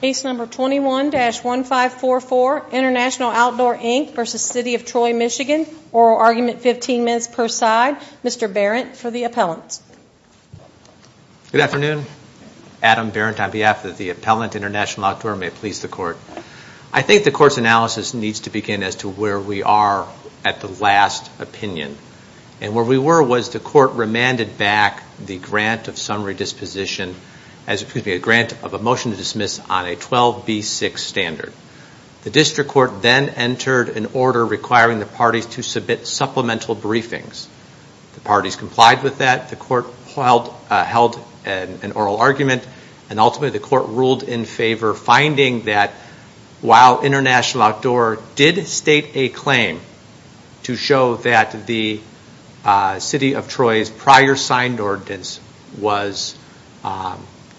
Case number 21-1544, International Outdoor Inc v. City of Troy, Michigan. Oral argument 15 minutes per side. Mr. Barrett for the appellants. Good afternoon. Adam Barrett on behalf of the appellant, International Outdoor, may please the court. I think the court's analysis needs to begin as to where we are at the last opinion. And where we were was the court remanded back the grant of summary disposition, excuse me, a grant of a motion to dismiss on a 12B6 standard. The district court then entered an order requiring the parties to submit supplemental briefings. The parties complied with that. The court held an oral argument and ultimately the court ruled in favor finding that while International Outdoor did state a claim to show that the City of Troy was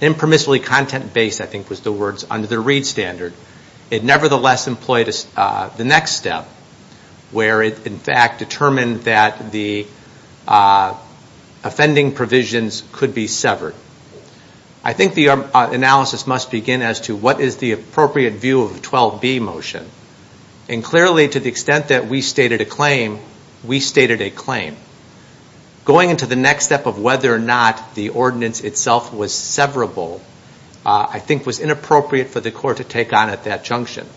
impermissibly content-based, I think was the words, under the Reed standard, it nevertheless employed the next step where it in fact determined that the offending provisions could be severed. I think the analysis must begin as to what is the appropriate view of the 12B motion. And clearly to the extent that we stated a claim, we stated a claim. Going into the next step of whether or not the ordinance itself was severable, I think was inappropriate for the court to take on at that junction.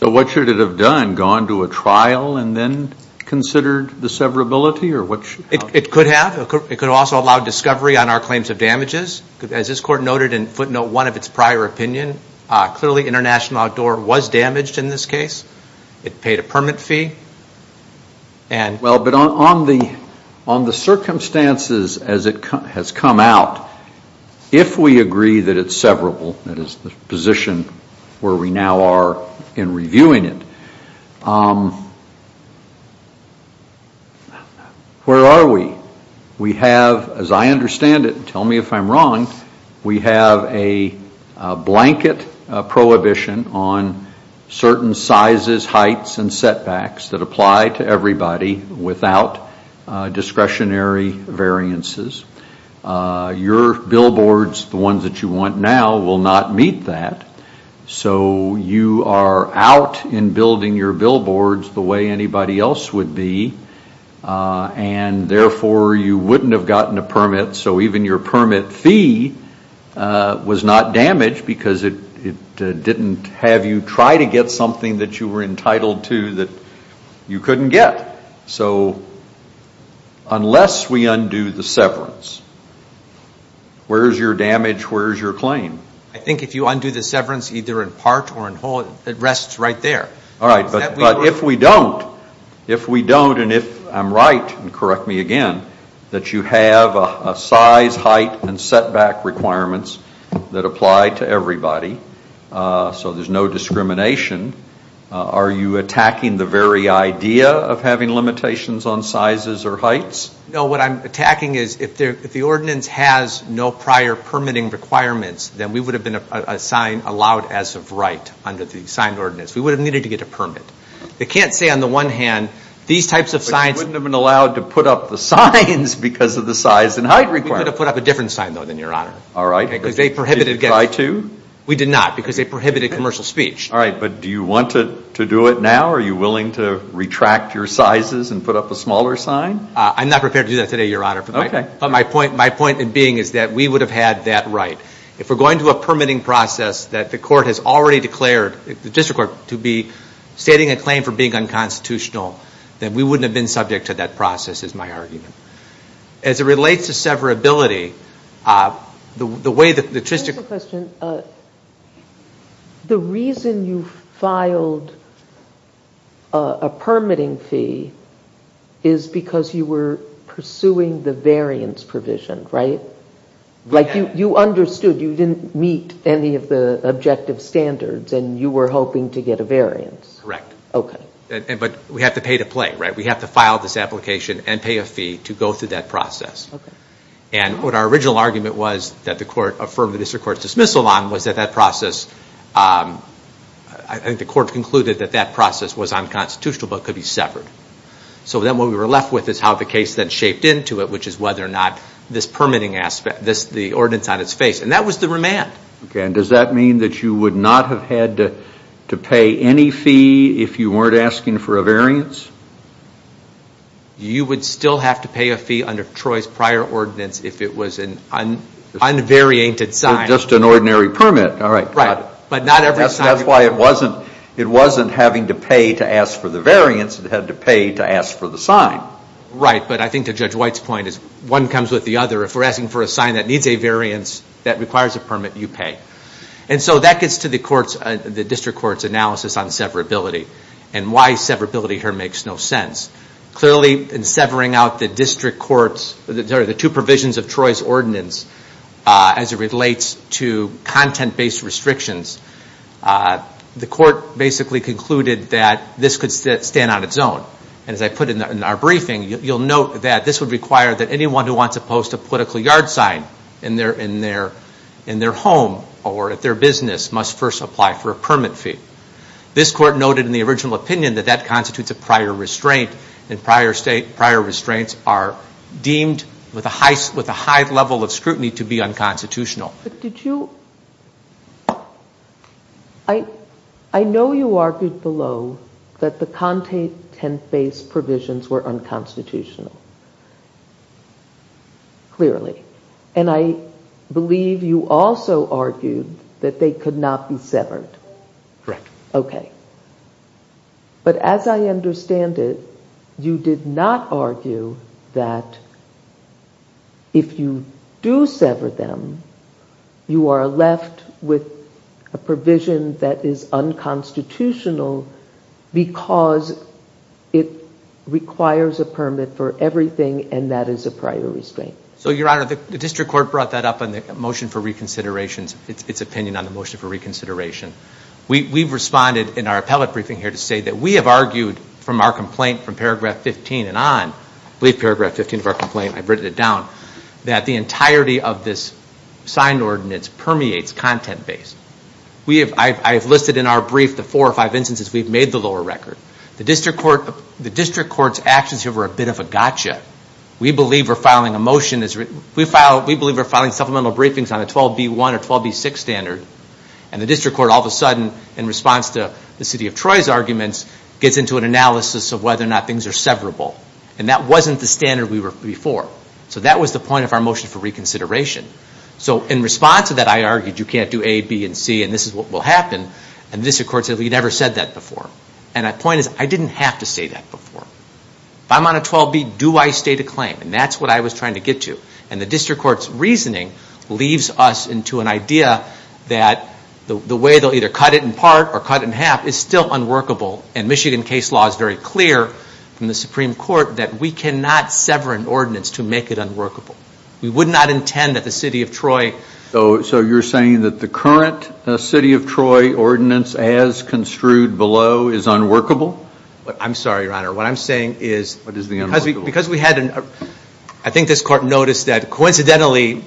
So what should it have done? Gone to a trial and then considered the severability? It could have. It could also allow discovery on our claims of damages. As this court noted in footnote one of its prior opinion, clearly International Outdoor was damaged in this case. It paid a permit fee. Well, but on the circumstances as it has come out, if we agree that it's severable, that is the position where we now are in reviewing it, where are we? We have, as I understand it, tell me if I'm wrong, we have a blanket prohibition on certain sizes, heights and setbacks that apply to everybody without discretionary variances. Your billboards, the ones that you want now, will not meet that. So you are out in building your billboards the way anybody else would be, and therefore you wouldn't have gotten a permit, so even your permit fee was not damaged because it didn't have you try to get something that you were entitled to that you couldn't get. So unless we undo the severance, where is your damage, where is your claim? I think if you undo the severance either in part or in whole, it rests right there. All right, but if we don't, if we don't and if I'm right, and correct me again, that you have a size, height and setback requirements that apply to everybody so there's no discrimination are you attacking the very idea of having limitations on sizes or heights? No, what I'm attacking is if the ordinance has no prior permitting requirements, then we would have been allowed as of right under the signed ordinance. We would have needed to get a permit. It can't say on the one hand, these types of signs But you wouldn't have been allowed to put up the signs because of the size and height requirements. We could have put up a different sign though than your honor. All right. Because they prohibited Did you try to? We did not because they prohibited commercial speech. All right, but do you want to do it now? Are you willing to retract your sizes and put up a smaller sign? I'm not prepared to do that today, your honor. Okay. But my point, my point in being is that we would have had that right. If we're going to a permitting process that the court has already declared, the district court to be stating a claim for being unconstitutional, then we wouldn't have been subject to that process is my argument. As it relates to severability, the way that I have a question. The reason you filed a permitting fee is because you were pursuing the variance provision, right? Like you understood you didn't meet any of the objective standards and you were hoping to get a variance. Correct. Okay. But we have to pay to play, right? We have to file this application and pay a fee to our original argument was that the court affirmed the district court's dismissal on was that that process, I think the court concluded that that process was unconstitutional but could be severed. So then what we were left with is how the case then shaped into it, which is whether or not this permitting aspect, the ordinance on its face, and that was the remand. Okay, and does that mean that you would not have had to pay any fee if you weren't asking for a variance? You would still have to pay a fee under Troy's prior ordinance if it was an unvariated sign. Just an ordinary permit. All right, got it. But not every sign. That's why it wasn't having to pay to ask for the variance. It had to pay to ask for the sign. Right, but I think to Judge White's point is one comes with the other. If we're asking for a sign that needs a variance that requires a permit, you pay. And so that gets to the point where it makes no sense. Clearly in severing out the district court's, sorry, the two provisions of Troy's ordinance as it relates to content-based restrictions, the court basically concluded that this could stand on its own. And as I put in our briefing, you'll note that this would require that anyone who wants to post a political yard sign in their home or at their business must first apply for a permit fee. This court noted in the original opinion that that constitutes a prior restraint, and prior restraints are deemed with a high level of scrutiny to be unconstitutional. I know you argued below that the content-based provisions were unconstitutional, clearly. And I believe you also argued that they could not be severed. But as I understand it, you did not argue that if you do sever them, you are left with a provision that is unconstitutional because it requires a permit for everything and that is a prior restraint. So Your Honor, the district court brought that up in the motion for reconsideration, its opinion on the motion for reconsideration. We've responded in our appellate briefing here to say that we have argued from our complaint from paragraph 15 and on, I believe paragraph 15 of our complaint, I've written it down, that the entirety of this sign ordinance permeates content-based. I have listed in our brief the four or five instances we've made the lower record. The district court's actions here were a bit of a gotcha. We believe we're filing supplemental briefings on a 12B1 or 12B6 standard and the district court, all of a sudden, in response to the City of Troy's arguments, gets into an analysis of whether or not things are severable. And that wasn't the standard we were before. So that was the point of our motion for reconsideration. So in response to that, I argued you can't do A, B, and C and this is what will happen. And the district court said we've never said that before. And my point is, I didn't have to say that before. If I'm on a 12B, do I state a claim? And that's what I was trying to get to. And the district court's reasoning leaves us into an idea that the way they'll either cut it in part or cut it in half is still unworkable. And Michigan case law is very clear from the Supreme Court that we cannot sever an ordinance to make it unworkable. We would not intend that the City of Troy... So you're saying that the current City of Troy ordinance as construed below is unworkable? I'm sorry, Your Honor. What I'm saying is because we had an... I think this court noticed that coincidentally,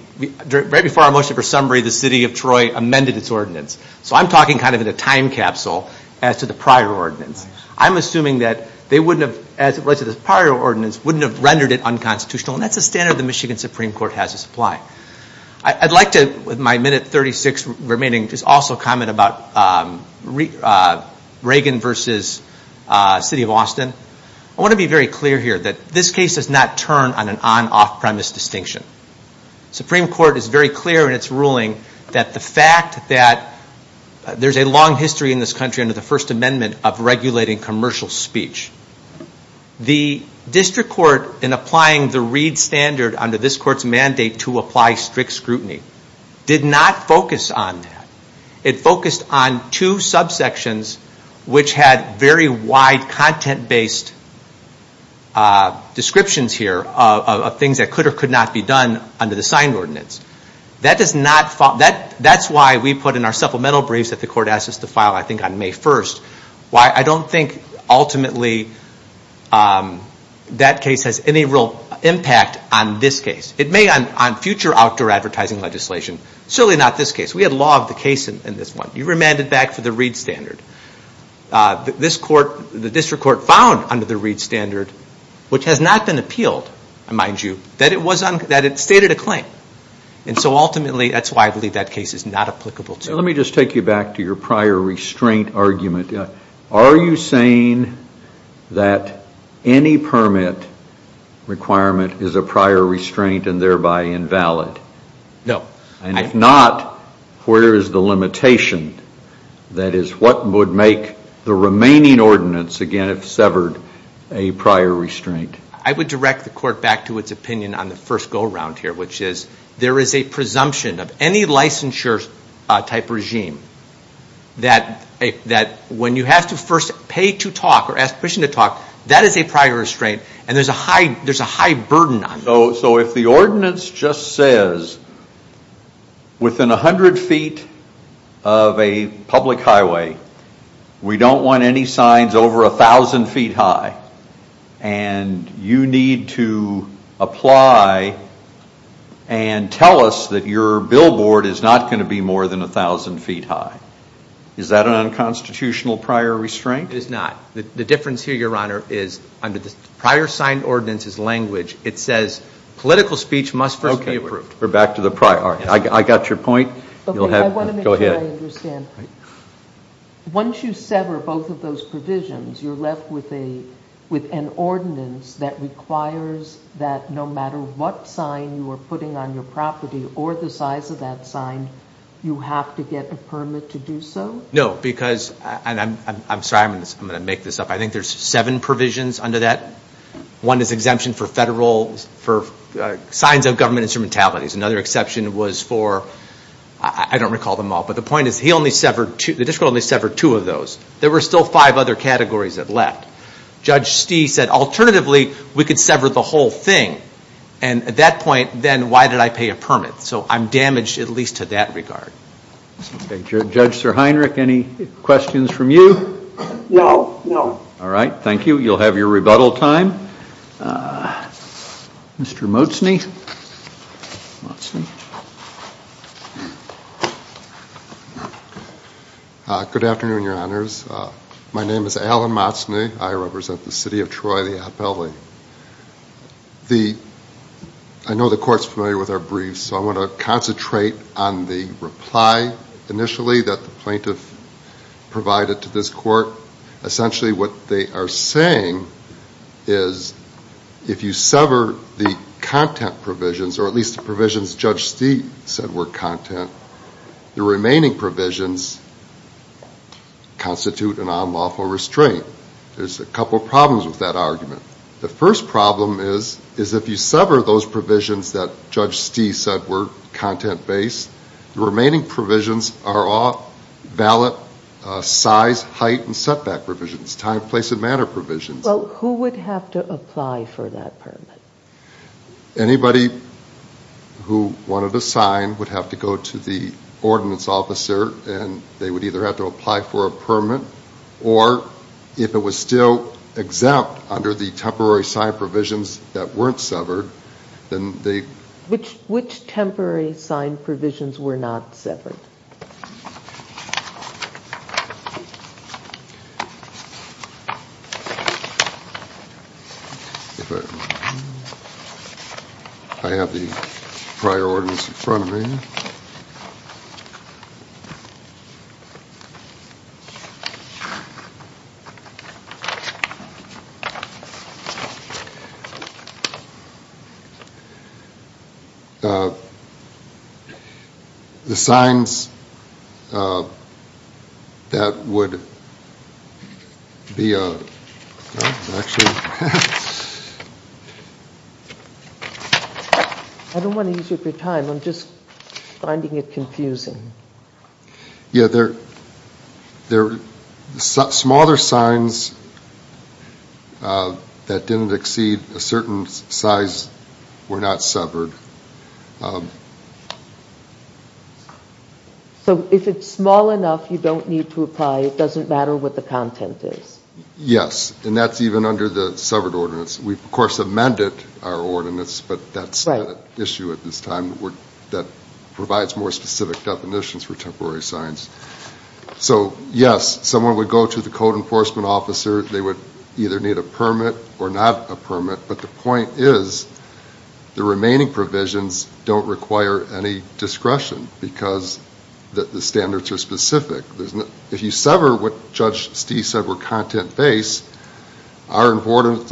right before our motion for summary, the City of Troy amended its ordinance. So I'm talking kind of in a time capsule as to the prior ordinance. I'm assuming that they wouldn't have, as it relates to the prior ordinance, wouldn't have rendered it unconstitutional. And that's the standard the Michigan Supreme Court has to supply. I'd like to, with my minute 36 remaining, just also comment about Reagan versus City of Austin. I want to be very clear here that this case does not turn on an on-off premise distinction. The Supreme Court is very clear in its ruling that the fact that there's a long history in this country under the First Amendment of regulating commercial speech. The district court, in applying the Reed Standard under this court's mandate to apply strict scrutiny, did not focus on that. It focused on two subsections which had very wide content-based descriptions here of things that could or could not be done under the signed ordinance. That does not... That's why we put in our supplemental briefs that the court asked us to file, I think, on May 1st. Why I don't think, ultimately, that case has any real impact on this case. It may on future outdoor advertising legislation, certainly not this case. We had law of the case in this one. You remanded back for the Reed Standard. This court, the district court, found under the Reed Standard, which has not been appealed, mind you, that it stated a claim. And so ultimately, that's why I believe that case is not applicable to. Let me just take you back to your prior restraint argument. Are you saying that any permit requirement is a prior restraint and thereby invalid? No. And if not, where is the limitation? That is, what would make the remaining ordinance, again, if severed, a prior restraint? I would direct the court back to its opinion on the first go-around here, which is there is a presumption of any licensure type regime that when you have to first pay to talk or ask permission to talk, that is a prior restraint and there's a high burden on you. So if the ordinance just says, within 100 feet of a public highway, we don't want any tell us that your billboard is not going to be more than 1,000 feet high. Is that an unconstitutional prior restraint? It is not. The difference here, Your Honor, is under the prior sign ordinance's language, it says political speech must first be approved. Okay. We're back to the prior. I got your point. Go ahead. Okay. I want to make sure I understand. Once you sever both of those provisions, you're left with an ordinance that requires that no matter what sign you are putting on your property or the size of that sign, you have to get a permit to do so? No. Because, and I'm sorry, I'm going to make this up. I think there's seven provisions under that. One is exemption for federal, for signs of government instrumentalities. Another exception was for, I don't recall them all, but the point is he only severed two, the district only severed two of those. There were still five other categories that left. Judge Stee said, alternatively, we could sever the whole thing. And at that point, then why did I pay a permit? So I'm damaged at least to that regard. Judge Sirheinrich, any questions from you? No. No. All right. Thank you. You'll have your rebuttal time. Mr. Motzni. Good afternoon, Your Honors. My name is Alan Motzni. I represent the City of Troy, the Appellee. I know the Court's familiar with our briefs, so I want to concentrate on the reply initially that the plaintiff provided to this Court. Essentially, what they are saying is if you sever the content provisions, or at least the provisions Judge Stee said were content, the remaining provisions constitute a non-lawful restraint. There's a couple of problems with that argument. The first problem is if you sever those provisions that Judge Stee said were content-based, the remaining provisions are all valid size, height, and setback provisions, time, place, and manner provisions. Well, who would have to apply for that permit? Anybody who wanted a sign would have to go to the ordinance officer, and they would either have to apply for a permit, or if it was still exempt under the temporary sign provisions that weren't severed, then they... Which temporary sign provisions were not severed? I have the prior ordinance in front of me. I don't want to use up your time, I'm just finding it confusing. Yeah, the smaller signs that didn't exceed a certain size were not severed. So if it's small enough, you don't need to apply, it doesn't matter what the content is? Yes, and that's even under the severed ordinance. We've of course amended our ordinance, but that's not an issue at this time that provides more specific definitions for temporary signs. So yes, someone would go to the code enforcement officer, they would either need a permit or not a permit, but the point is the remaining provisions don't require any discretion because the standards are specific. If you sever what Judge Stee said were content-based, our ordinance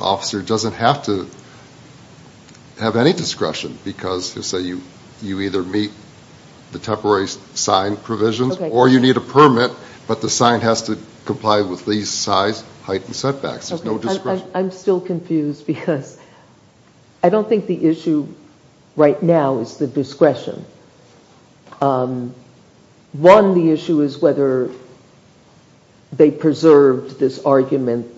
officer doesn't have to have any discretion because you either meet the temporary sign provisions or you need a permit, but the sign has to comply with these size, height, and setbacks, there's no discretion. I'm still confused because I don't think the issue right now is the discretion. One, the issue is whether they preserved this argument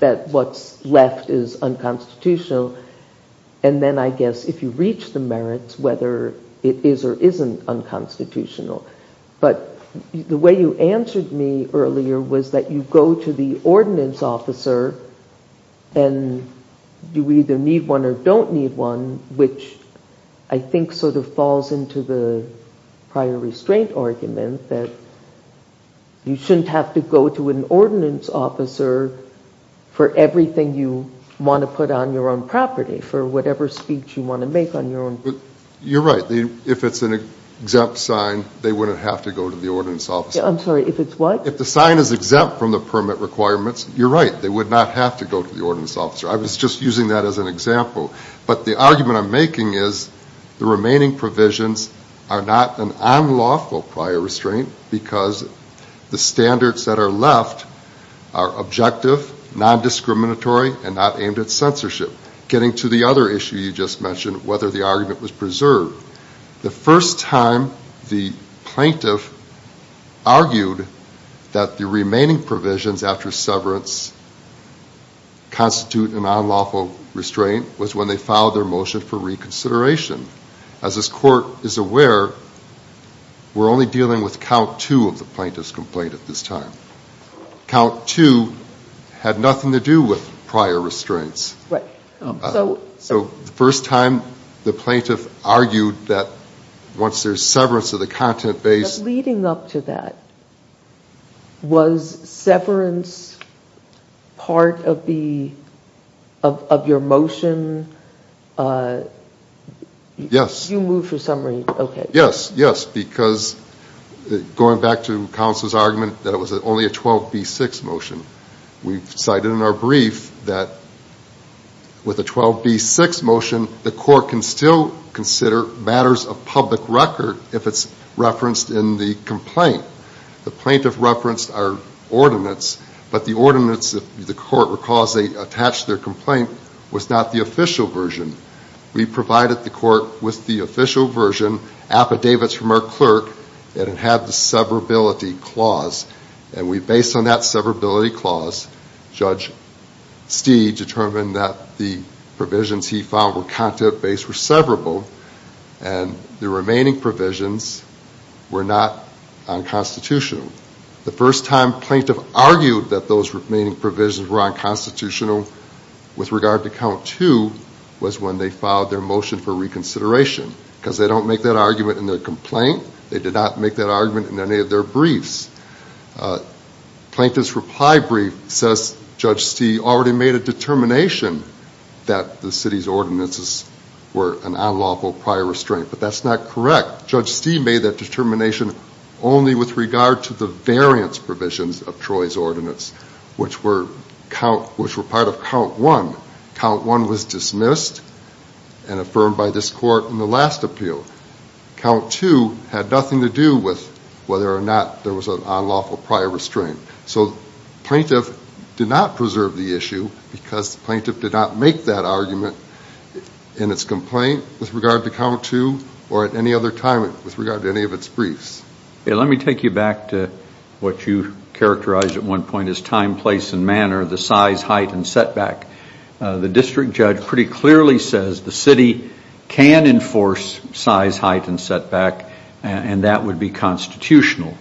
that what's left is unconstitutional, and then I guess if you reach the merits, whether it is or isn't unconstitutional. But the way you answered me earlier was that you go to the ordinance officer and you either need one or don't need one, which I think sort of falls into the prior restraint argument that you shouldn't have to go to an ordinance officer for everything you want to put on your own property for whatever speech you want to make on your own property. You're right. If it's an exempt sign, they wouldn't have to go to the ordinance officer. I'm sorry. If it's what? If the sign is exempt from the permit requirements, you're right, they would not have to go to the ordinance officer. I was just using that as an example. But the argument I'm making is the remaining provisions are not an unlawful prior restraint because the standards that are left are objective, non-discriminatory, and not aimed at censorship. Getting to the other issue you just mentioned, whether the argument was preserved. The first time the plaintiff argued that the remaining provisions after severance constitute an unlawful restraint was when they filed their motion for reconsideration. As this court is aware, we're only dealing with count two of the plaintiff's complaint at this time. Count two had nothing to do with prior restraints. Right. So the first time the plaintiff argued that once there's severance of the content base. But leading up to that, was severance part of your motion? Yes. You moved for summary. Okay. Yes. Yes. Because going back to counsel's argument that it was only a 12B6 motion, we've cited in our brief that with a 12B6 motion, the court can still consider matters of public record if it's referenced in the complaint. The plaintiff referenced our ordinance, but the ordinance, if the court recalls they attached their complaint, was not the official version. We provided the court with the official version, affidavits from our clerk, and it had the severability clause. And we based on that severability clause, Judge Stee determined that the provisions he found were content-based were severable, and the remaining provisions were not unconstitutional. The first time plaintiff argued that those remaining provisions were unconstitutional with regard to count two, was when they filed their motion for reconsideration. Because they don't make that argument in their complaint, they did not make that argument in any of their briefs. Plaintiff's reply brief says Judge Stee already made a determination that the city's ordinances were an unlawful prior restraint, but that's not correct. Judge Stee made that determination only with regard to the variance provisions of Troy's ordinance, which were part of count one. Count one was dismissed and affirmed by this court in the last appeal. Count two had nothing to do with whether or not there was an unlawful prior restraint. So plaintiff did not preserve the issue, because plaintiff did not make that argument in its complaint with regard to count two, or at any other time with regard to any of its briefs. Let me take you back to what you characterized at one point as time, place, and manner, the size, height, and setback. The district judge pretty clearly says the city can enforce size, height, and setback, and that would be constitutional.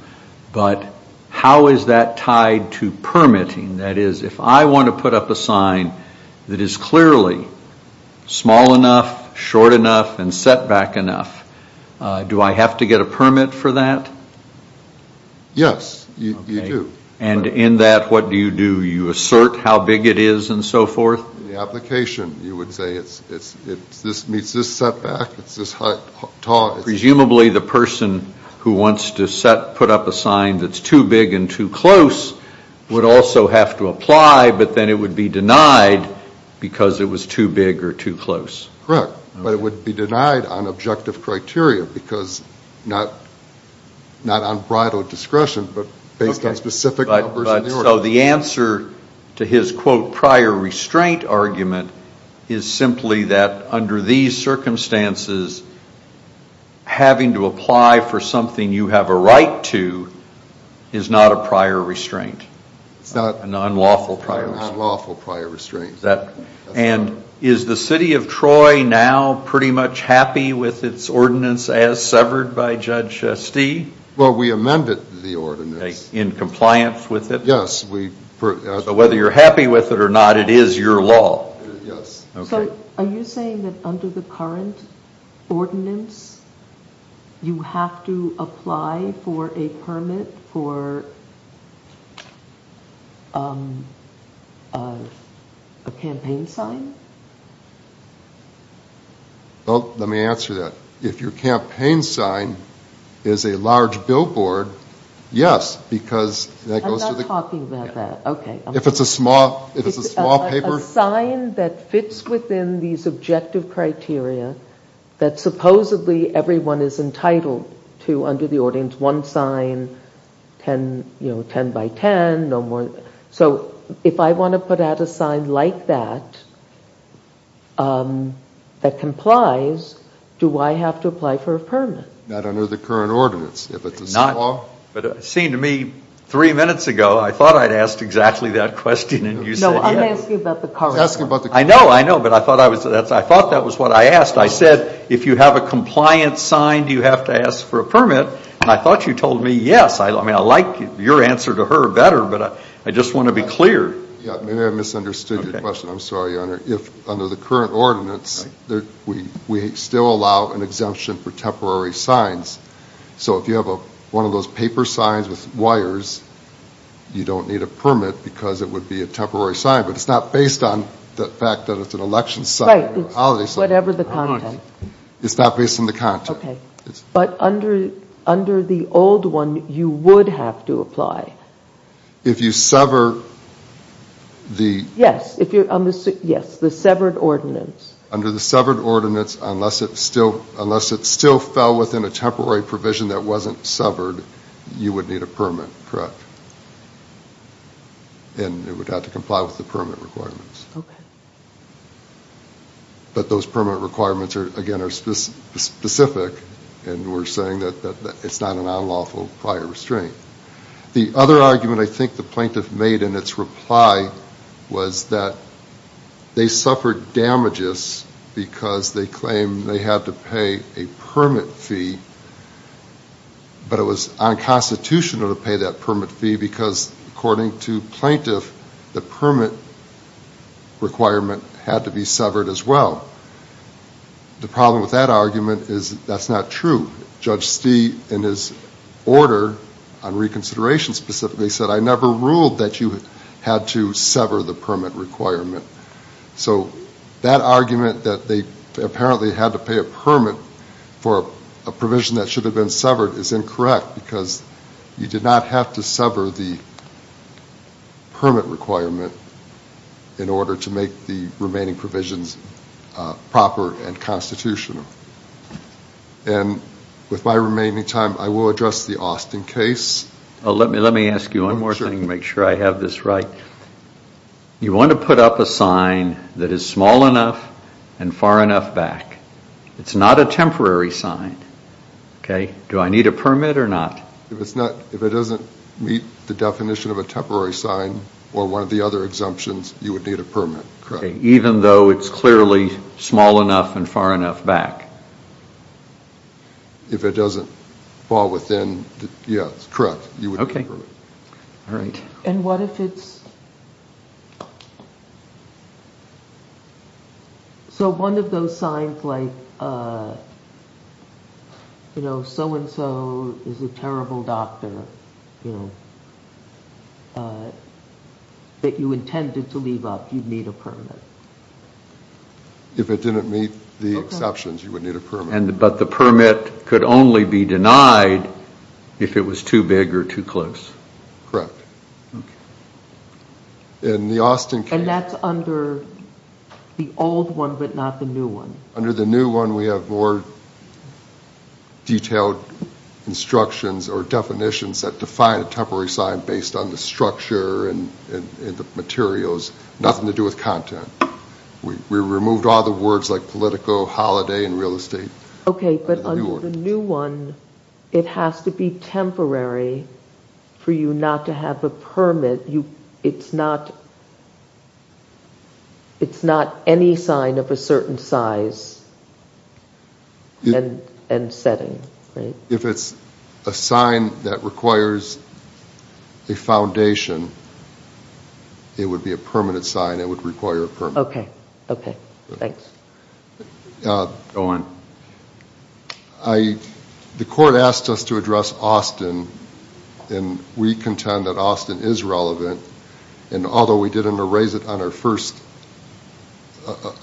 But how is that tied to permitting? That is, if I want to put up a sign that is clearly small enough, short enough, and setback enough, do I have to get a permit for that? Yes, you do. And in that, what do you do? Do you assert how big it is and so forth? In the application, you would say it's this meets this setback, it's this height, tall. Presumably the person who wants to set, put up a sign that's too big and too close would also have to apply, but then it would be denied because it was too big or too close. Correct. But it would be denied on objective criteria, because not on bridal discretion, but based on specific numbers in the order. So the answer to his, quote, prior restraint argument is simply that under these circumstances, having to apply for something you have a right to is not a prior restraint. It's not. A non-lawful prior restraint. A non-lawful prior restraint. And is the city of Troy now pretty much happy with its ordinance as severed by Judge Stee? Well, we amended the ordinance. In compliance with it? Yes. So whether you're happy with it or not, it is your law. Yes. Okay. So are you saying that under the current ordinance, you have to apply for a permit for a campaign sign? Well, let me answer that. If your campaign sign is a large billboard, yes, because that goes to the... I'm talking about that. Okay. If it's a small paper? A sign that fits within these objective criteria that supposedly everyone is entitled to under the ordinance, one sign, 10 by 10, no more. So if I want to put out a sign like that, that complies, do I have to apply for a permit? Not under the current ordinance. If it's a small... But it seemed to me three minutes ago, I thought I'd asked exactly that question and you said yes. No, I'm asking about the current... I know, I know, but I thought that was what I asked. I said, if you have a compliance sign, do you have to ask for a permit? And I thought you told me yes. I mean, I like your answer to her better, but I just want to be clear. Yeah, maybe I misunderstood your question. I'm sorry, Your Honor. If under the current ordinance, we still allow an exemption for temporary signs. So if you have one of those paper signs with wires, you don't need a permit because it would be a temporary sign, but it's not based on the fact that it's an election sign or a holiday sign. Right, it's whatever the content. It's not based on the content. But under the old one, you would have to apply. If you sever the... Yes, if you're on the... Yes, the severed ordinance. Under the severed ordinance, unless it still fell within a temporary provision that wasn't severed, you would need a permit, correct? And it would have to comply with the permit requirements. But those permit requirements, again, are specific, and we're saying that it's not an unlawful prior restraint. The other argument I think the plaintiff made in its reply was that they suffered damages because they claimed they had to pay a permit fee, but it was unconstitutional to pay that permit fee because according to plaintiff, the permit requirement had to be severed as well. The problem with that argument is that's not true. Judge Stee, in his order on reconsideration specifically, said, I never ruled that you had to sever the permit requirement. So that argument that they apparently had to pay a permit for a provision that should have been severed is incorrect because you did not have to sever the permit requirement in order to make the remaining provisions proper and constitutional. And with my remaining time, I will address the Austin case. Let me ask you one more thing to make sure I have this right. You want to put up a sign that is small enough and far enough back. It's not a temporary sign, okay? Do I need a permit or not? If it doesn't meet the definition of a temporary sign or one of the other exemptions, you would need a permit, correct? Even though it's clearly small enough and far enough back. If it doesn't fall within, yeah, correct. You would need a permit. And what if it's... So one of those signs like, you know, so and so is a terrible doctor, you know, that you intended to leave up, you'd need a permit. If it didn't meet the exceptions, you would need a permit. But the permit could only be denied if it was too big or too close. Correct. In the Austin case... And that's under the old one but not the new one. Under the new one, we have more detailed instructions or definitions that define a temporary sign based on the structure and the materials, nothing to do with content. We removed all the words like politico, holiday, and real estate. Okay, but under the new one, it has to be temporary for you not to have a permit. It's not any sign of a certain size and setting, right? If it's a sign that requires a foundation, it would be a permanent sign, it would require a permit. Okay, okay, thanks. Go on. The court asked us to address Austin and we contend that Austin is relevant and although we didn't erase it on our first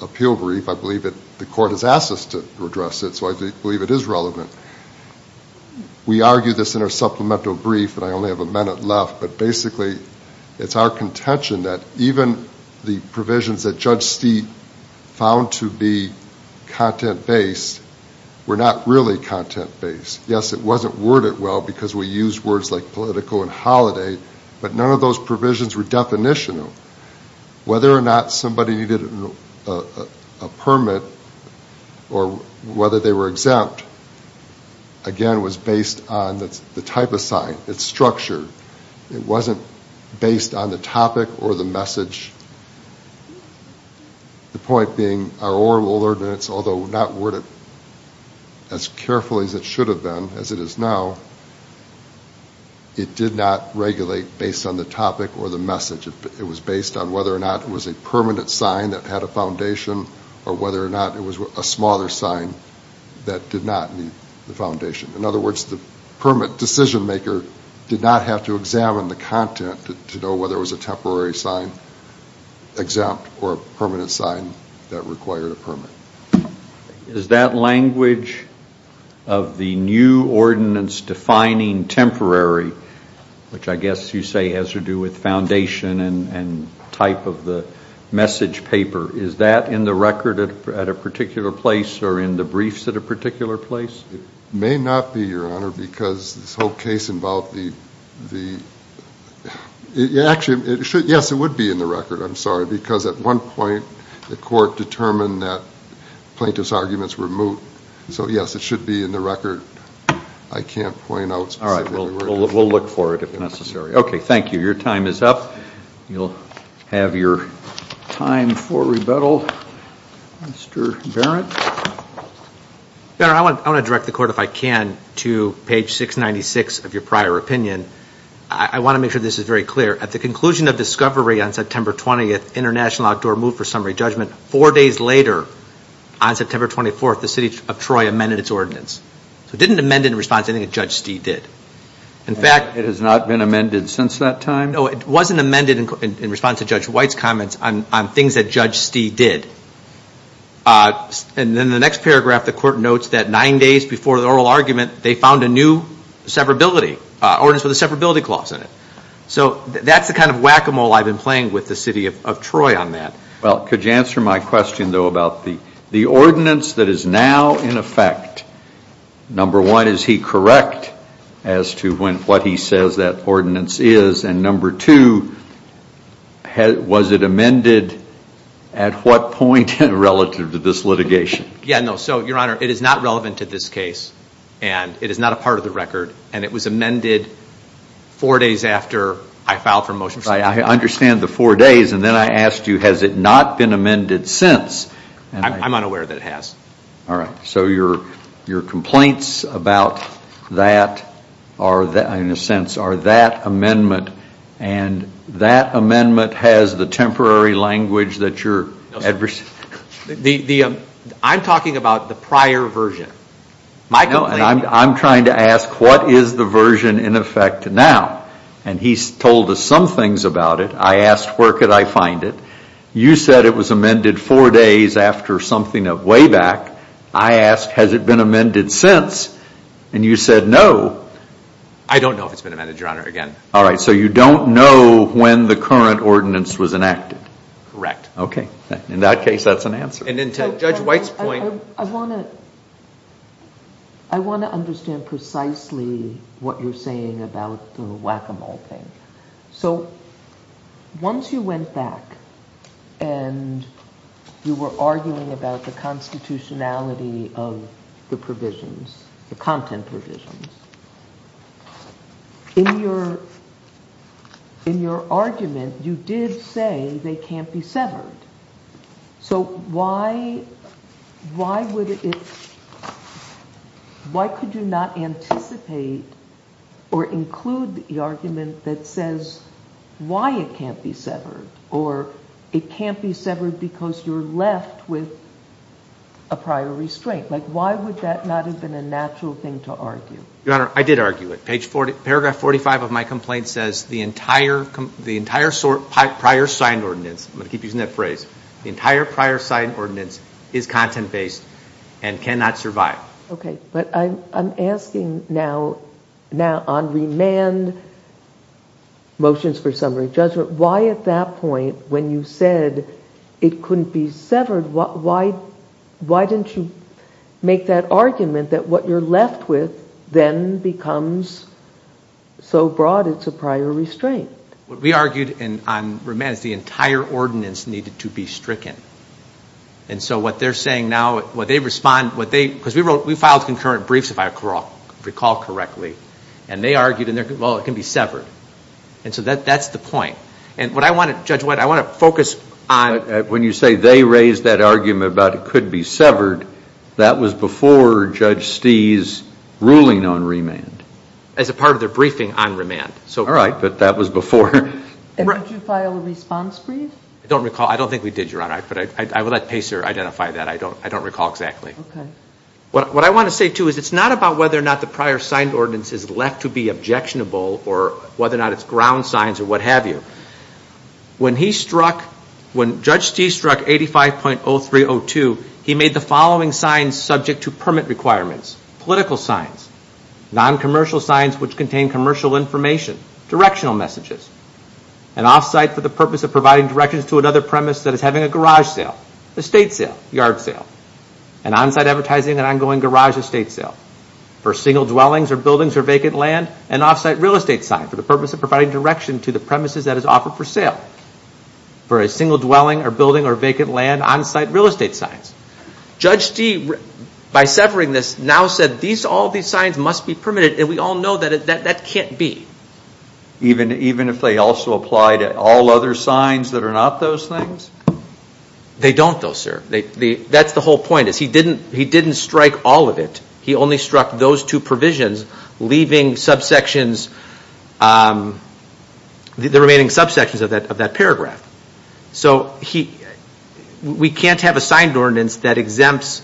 appeal brief, I believe that the court has asked us to address it so I believe it is relevant. We argue this in our supplemental brief and I only have a minute left but basically it's our contention that even the provisions that Judge Steepe found to be content based were not really content based. Yes, it wasn't worded well because we used words like politico and holiday but none of those provisions were definitional. Whether or not somebody needed a permit or whether they were exempt, again, was based on the type of sign, it's structured, it wasn't based on the topic or the message. The point being our oral ordinance, although not worded as carefully as it should have been, as it is now, it did not regulate based on the topic or the message. It was based on whether or not it was a permanent sign that had a foundation or whether or not it was a smaller sign that did not need the foundation. In other words, the permit decision maker did not have to examine the content to know whether it was a temporary sign, exempt, or a permanent sign that required a permit. Is that language of the new ordinance defining temporary, which I guess you say has to do with foundation and type of the message paper, is that in the record at a particular place or in the briefs at a particular place? It may not be, Your Honor, because this whole case involved the...actually, yes, it would be in the record, I'm sorry, because at one point the court determined that plaintiff's arguments were moot, so yes, it should be in the record. I can't point out specifically where it is. All right, we'll look for it if necessary. Okay, thank you. Your time is up. You'll have your time for rebuttal, Mr. Barrett. Barrett, I want to direct the court, if I can, to page 696 of your prior opinion. I want to make sure this is very clear. At the conclusion of discovery on September 20th, International Outdoor Moot for Summary Judgment, four days later, on September 24th, the City of Troy amended its ordinance. It didn't amend it in response to anything that Judge Stee did. In fact... It has not been amended since that time? No, it wasn't amended in response to Judge White's comments on things that Judge Stee did, and in the next paragraph, the court notes that nine days before the oral argument, they found a new severability, ordinance with a severability clause in it. So that's the kind of whack-a-mole I've been playing with the City of Troy on that. Well, could you answer my question, though, about the ordinance that is now in effect? Number one, is he correct as to what he says that ordinance is? And number two, was it amended at what point relative to this litigation? Yeah, no. So, Your Honor, it is not relevant to this case, and it is not a part of the record, and it was amended four days after I filed for a motion. I understand the four days, and then I asked you, has it not been amended since? I'm unaware that it has. All right. So your complaints about that, in a sense, are that amendment, and that amendment has the temporary language that you're adversely... I'm talking about the prior version. No, I'm trying to ask, what is the version in effect now? And he's told us some things about it. I asked, where could I find it? You said it was amended four days after something way back. I asked, has it been amended since? And you said, no. I don't know if it's been amended, Your Honor, again. All right. So you don't know when the current ordinance was enacted? Correct. Okay. In that case, that's an answer. And then to Judge White's point... I want to understand precisely what you're saying about the whack-a-mole thing. So once you went back and you were arguing about the constitutionality of the provisions, the content provisions, in your argument, you did say they can't be severed. So why could you not anticipate or include the argument that says, why it can't be severed? Or it can't be severed because you're left with a prior restraint. Like, why would that not have been a natural thing to argue? Your Honor, I did argue it. Paragraph 45 of my complaint says, the entire prior signed ordinance... I'm going to keep using that phrase. The entire prior signed ordinance is content-based and cannot survive. Okay. But I'm asking now on remand motions for summary judgment, why at that point, when you said it couldn't be severed, why didn't you make that argument that what you're left with then becomes so broad it's a prior restraint? What we argued on remand is the entire ordinance needed to be stricken. And so what they're saying now, what they respond, what they... Because we filed concurrent briefs, if I recall correctly. And they argued, well, it can be severed. And so that's the point. And what I want to, Judge White, I want to focus on... When you say they raised that argument about it could be severed, that was before Judge Stee's ruling on remand. As a part of their briefing on remand. All right. But that was before. And did you file a response brief? I don't recall. I don't think we did, Your Honor. But I will let Pacer identify that. I don't recall exactly. Okay. What I want to say, too, is it's not about whether or not the prior signed ordinance is left to be objectionable or whether or not it's ground signs or what have you. When he struck, when Judge Stee struck 85.0302, he made the following signs subject to permit requirements. Political signs. Non-commercial signs which contain commercial information. Directional messages. An off-site for the purpose of providing directions to another premise that is having a garage sale. Estate sale. Yard sale. An on-site advertising and ongoing garage estate sale. For single dwellings or buildings or vacant land. An off-site real estate sign for the purpose of providing direction to the premises that is offered for sale. For a single dwelling or building or vacant land, on-site real estate signs. Judge Stee, by severing this, now said all these signs must be permitted and we all know that that can't be. Even if they also apply to all other signs that are not those things? They don't, though, sir. That's the whole point is he didn't strike all of it. He only struck those two provisions, leaving subsections, the remaining subsections of that paragraph. So we can't have a signed ordinance that exempts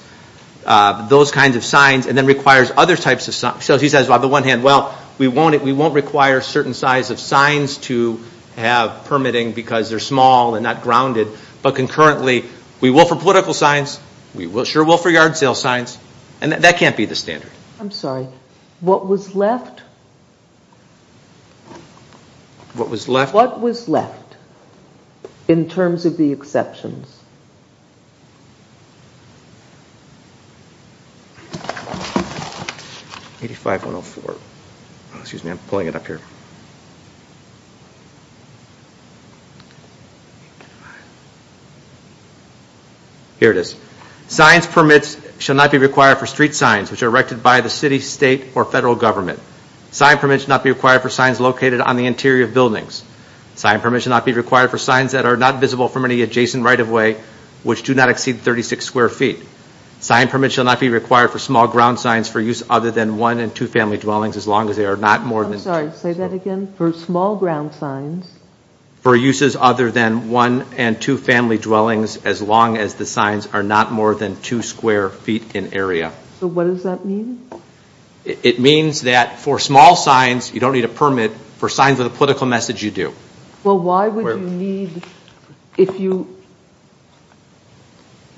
those kinds of signs and then requires other types of signs. So he says on the one hand, well, we won't require certain size of signs to have permitting because they're small and not grounded, but concurrently we will for political signs, we sure will for yard sale signs, and that can't be the standard. I'm sorry. What was left? What was left? What was left in terms of the exceptions? 85-104. Excuse me, I'm pulling it up here. Here it is. Signs permits shall not be required for street signs which are erected by the city, state, or federal government. Sign permits shall not be required for signs located on the interior of buildings. Sign permits shall not be required for signs that are not visible from any adjacent right-of-way which do not exceed 36 square feet. Sign permits shall not be required for small ground signs for use other than one and two family dwellings as long as they are not more than two square feet. I'm sorry, say that again. For small ground signs. For uses other than one and two family dwellings as long as the signs are not more than two square feet in area. So what does that mean? It means that for small signs, you don't need a permit for signs with a political message you do. Well, why would you need if you,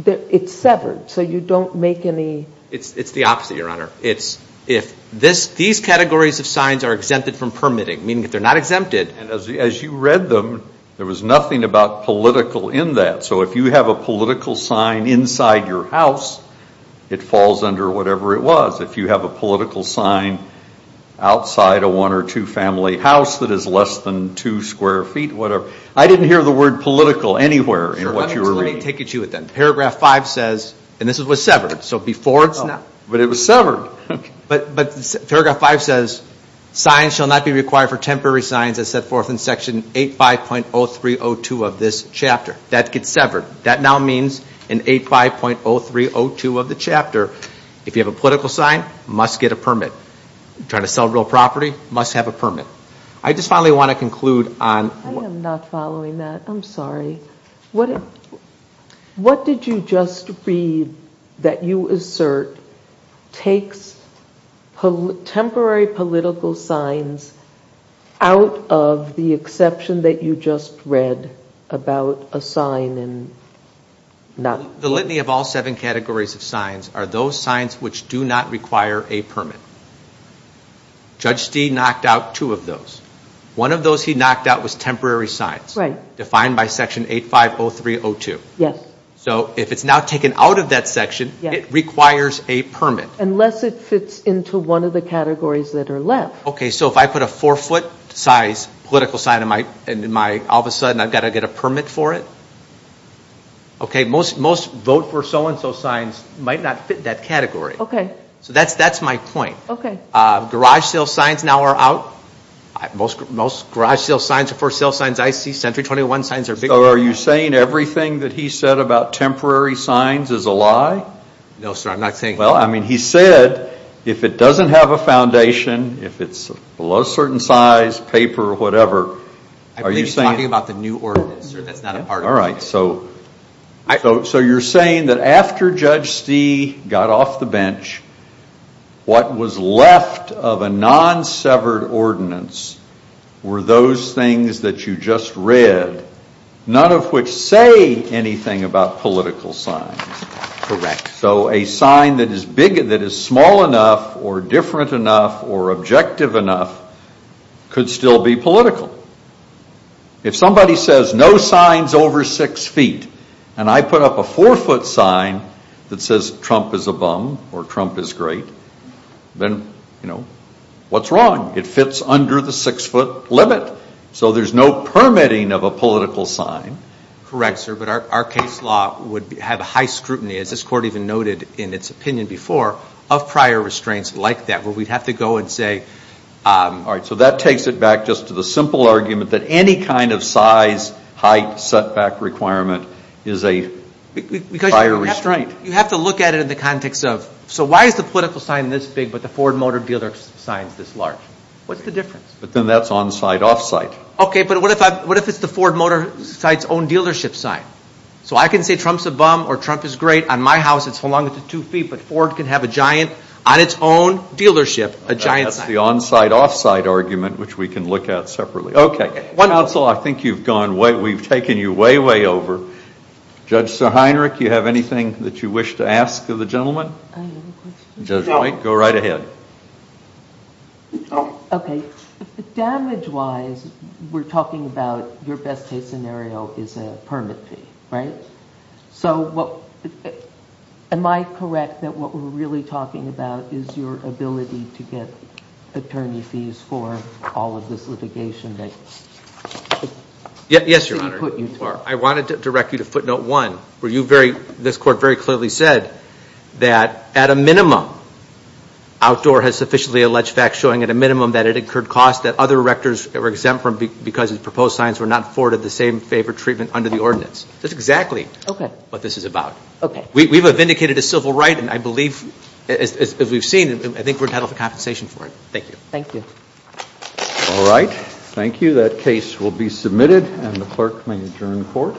it's severed, so you don't make any. It's the opposite, Your Honor. It's if these categories of signs are exempted from permitting, meaning that they're not exempted. As you read them, there was nothing about political in that. So if you have a political sign inside your house, it falls under whatever it was. If you have a political sign outside a one or two family house that is less than two square feet, whatever. I didn't hear the word political anywhere in what you were reading. Let me take it to you then. Paragraph five says, and this was severed, so before it's not. But it was severed. But paragraph five says, signs shall not be required for temporary signs as set forth in section 85.0302 of this chapter. That now means in 85.0302 of the chapter, if you have a political sign, must get a permit. Trying to sell real property, must have a permit. I just finally want to conclude on- I am not following that. I'm sorry. What did you just read that you assert takes temporary political signs out of the exception that you just read about a sign and not- The litany of all seven categories of signs are those signs which do not require a permit. Judge Stee knocked out two of those. One of those he knocked out was temporary signs. Right. Defined by section 85.0302. Yes. So if it's now taken out of that section, it requires a permit. Unless it fits into one of the categories that are left. Okay, so if I put a four foot size political sign in my- all of a sudden I've got to get a permit for it? Okay, most vote for so-and-so signs might not fit that category. Okay. So that's my point. Okay. Garage sale signs now are out. Most garage sale signs are for sale signs. I see Century 21 signs are big- So are you saying everything that he said about temporary signs is a lie? No, sir, I'm not saying- Well, I mean, he said if it doesn't have a foundation, if it's below a certain size, paper, whatever- I believe he's talking about the new ordinance, sir. That's not a part of it. All right, so you're saying that after Judge Stee got off the bench, what was left of a non-severed ordinance were those things that you just read, none of which say anything about political signs. Correct. So a sign that is small enough or different enough or objective enough could still be political. If somebody says no signs over six feet and I put up a four-foot sign that says Trump is a bum or Trump is great, then, you know, what's wrong? It fits under the six-foot limit. So there's no permitting of a political sign. Correct, sir, but our case law would have high scrutiny, as this court even noted in its opinion before, of prior restraints like that where we'd have to go and say- All right, so that takes it back just to the simple argument that any kind of size, height, setback requirement is a prior restraint. You have to look at it in the context of, so why is the political sign this big but the Ford Motor Dealer sign is this large? What's the difference? But then that's on-site, off-site. Okay, but what if it's the Ford Motor site's own dealership sign? So I can say Trump's a bum or Trump is great. On my house, it's longer than two feet, but Ford can have a giant, on its own dealership, a giant sign. That's the on-site, off-site argument, which we can look at separately. Okay, counsel, I think you've gone way, we've taken you way, way over. Judge Sirheinrich, do you have anything that you wish to ask of the gentleman? I have a question. Judge White, go right ahead. Okay, damage-wise, we're talking about your best-case scenario is a permit fee, right? So am I correct that what we're really talking about is your ability to get attorney fees for all of this litigation that- Yes, Your Honor. I wanted to direct you to footnote one, where you very, this court very clearly said that at a minimum, Outdoor has sufficiently alleged facts showing at a minimum that it incurred costs that other rectors were exempt from because the proposed signs were not afforded the same favor treatment under the ordinance. That's exactly what this is about. Okay. We've vindicated a civil right, and I believe, as we've seen, I think we're entitled to compensation for it. Thank you. Thank you. All right, thank you. That case will be submitted, and the clerk may adjourn the court.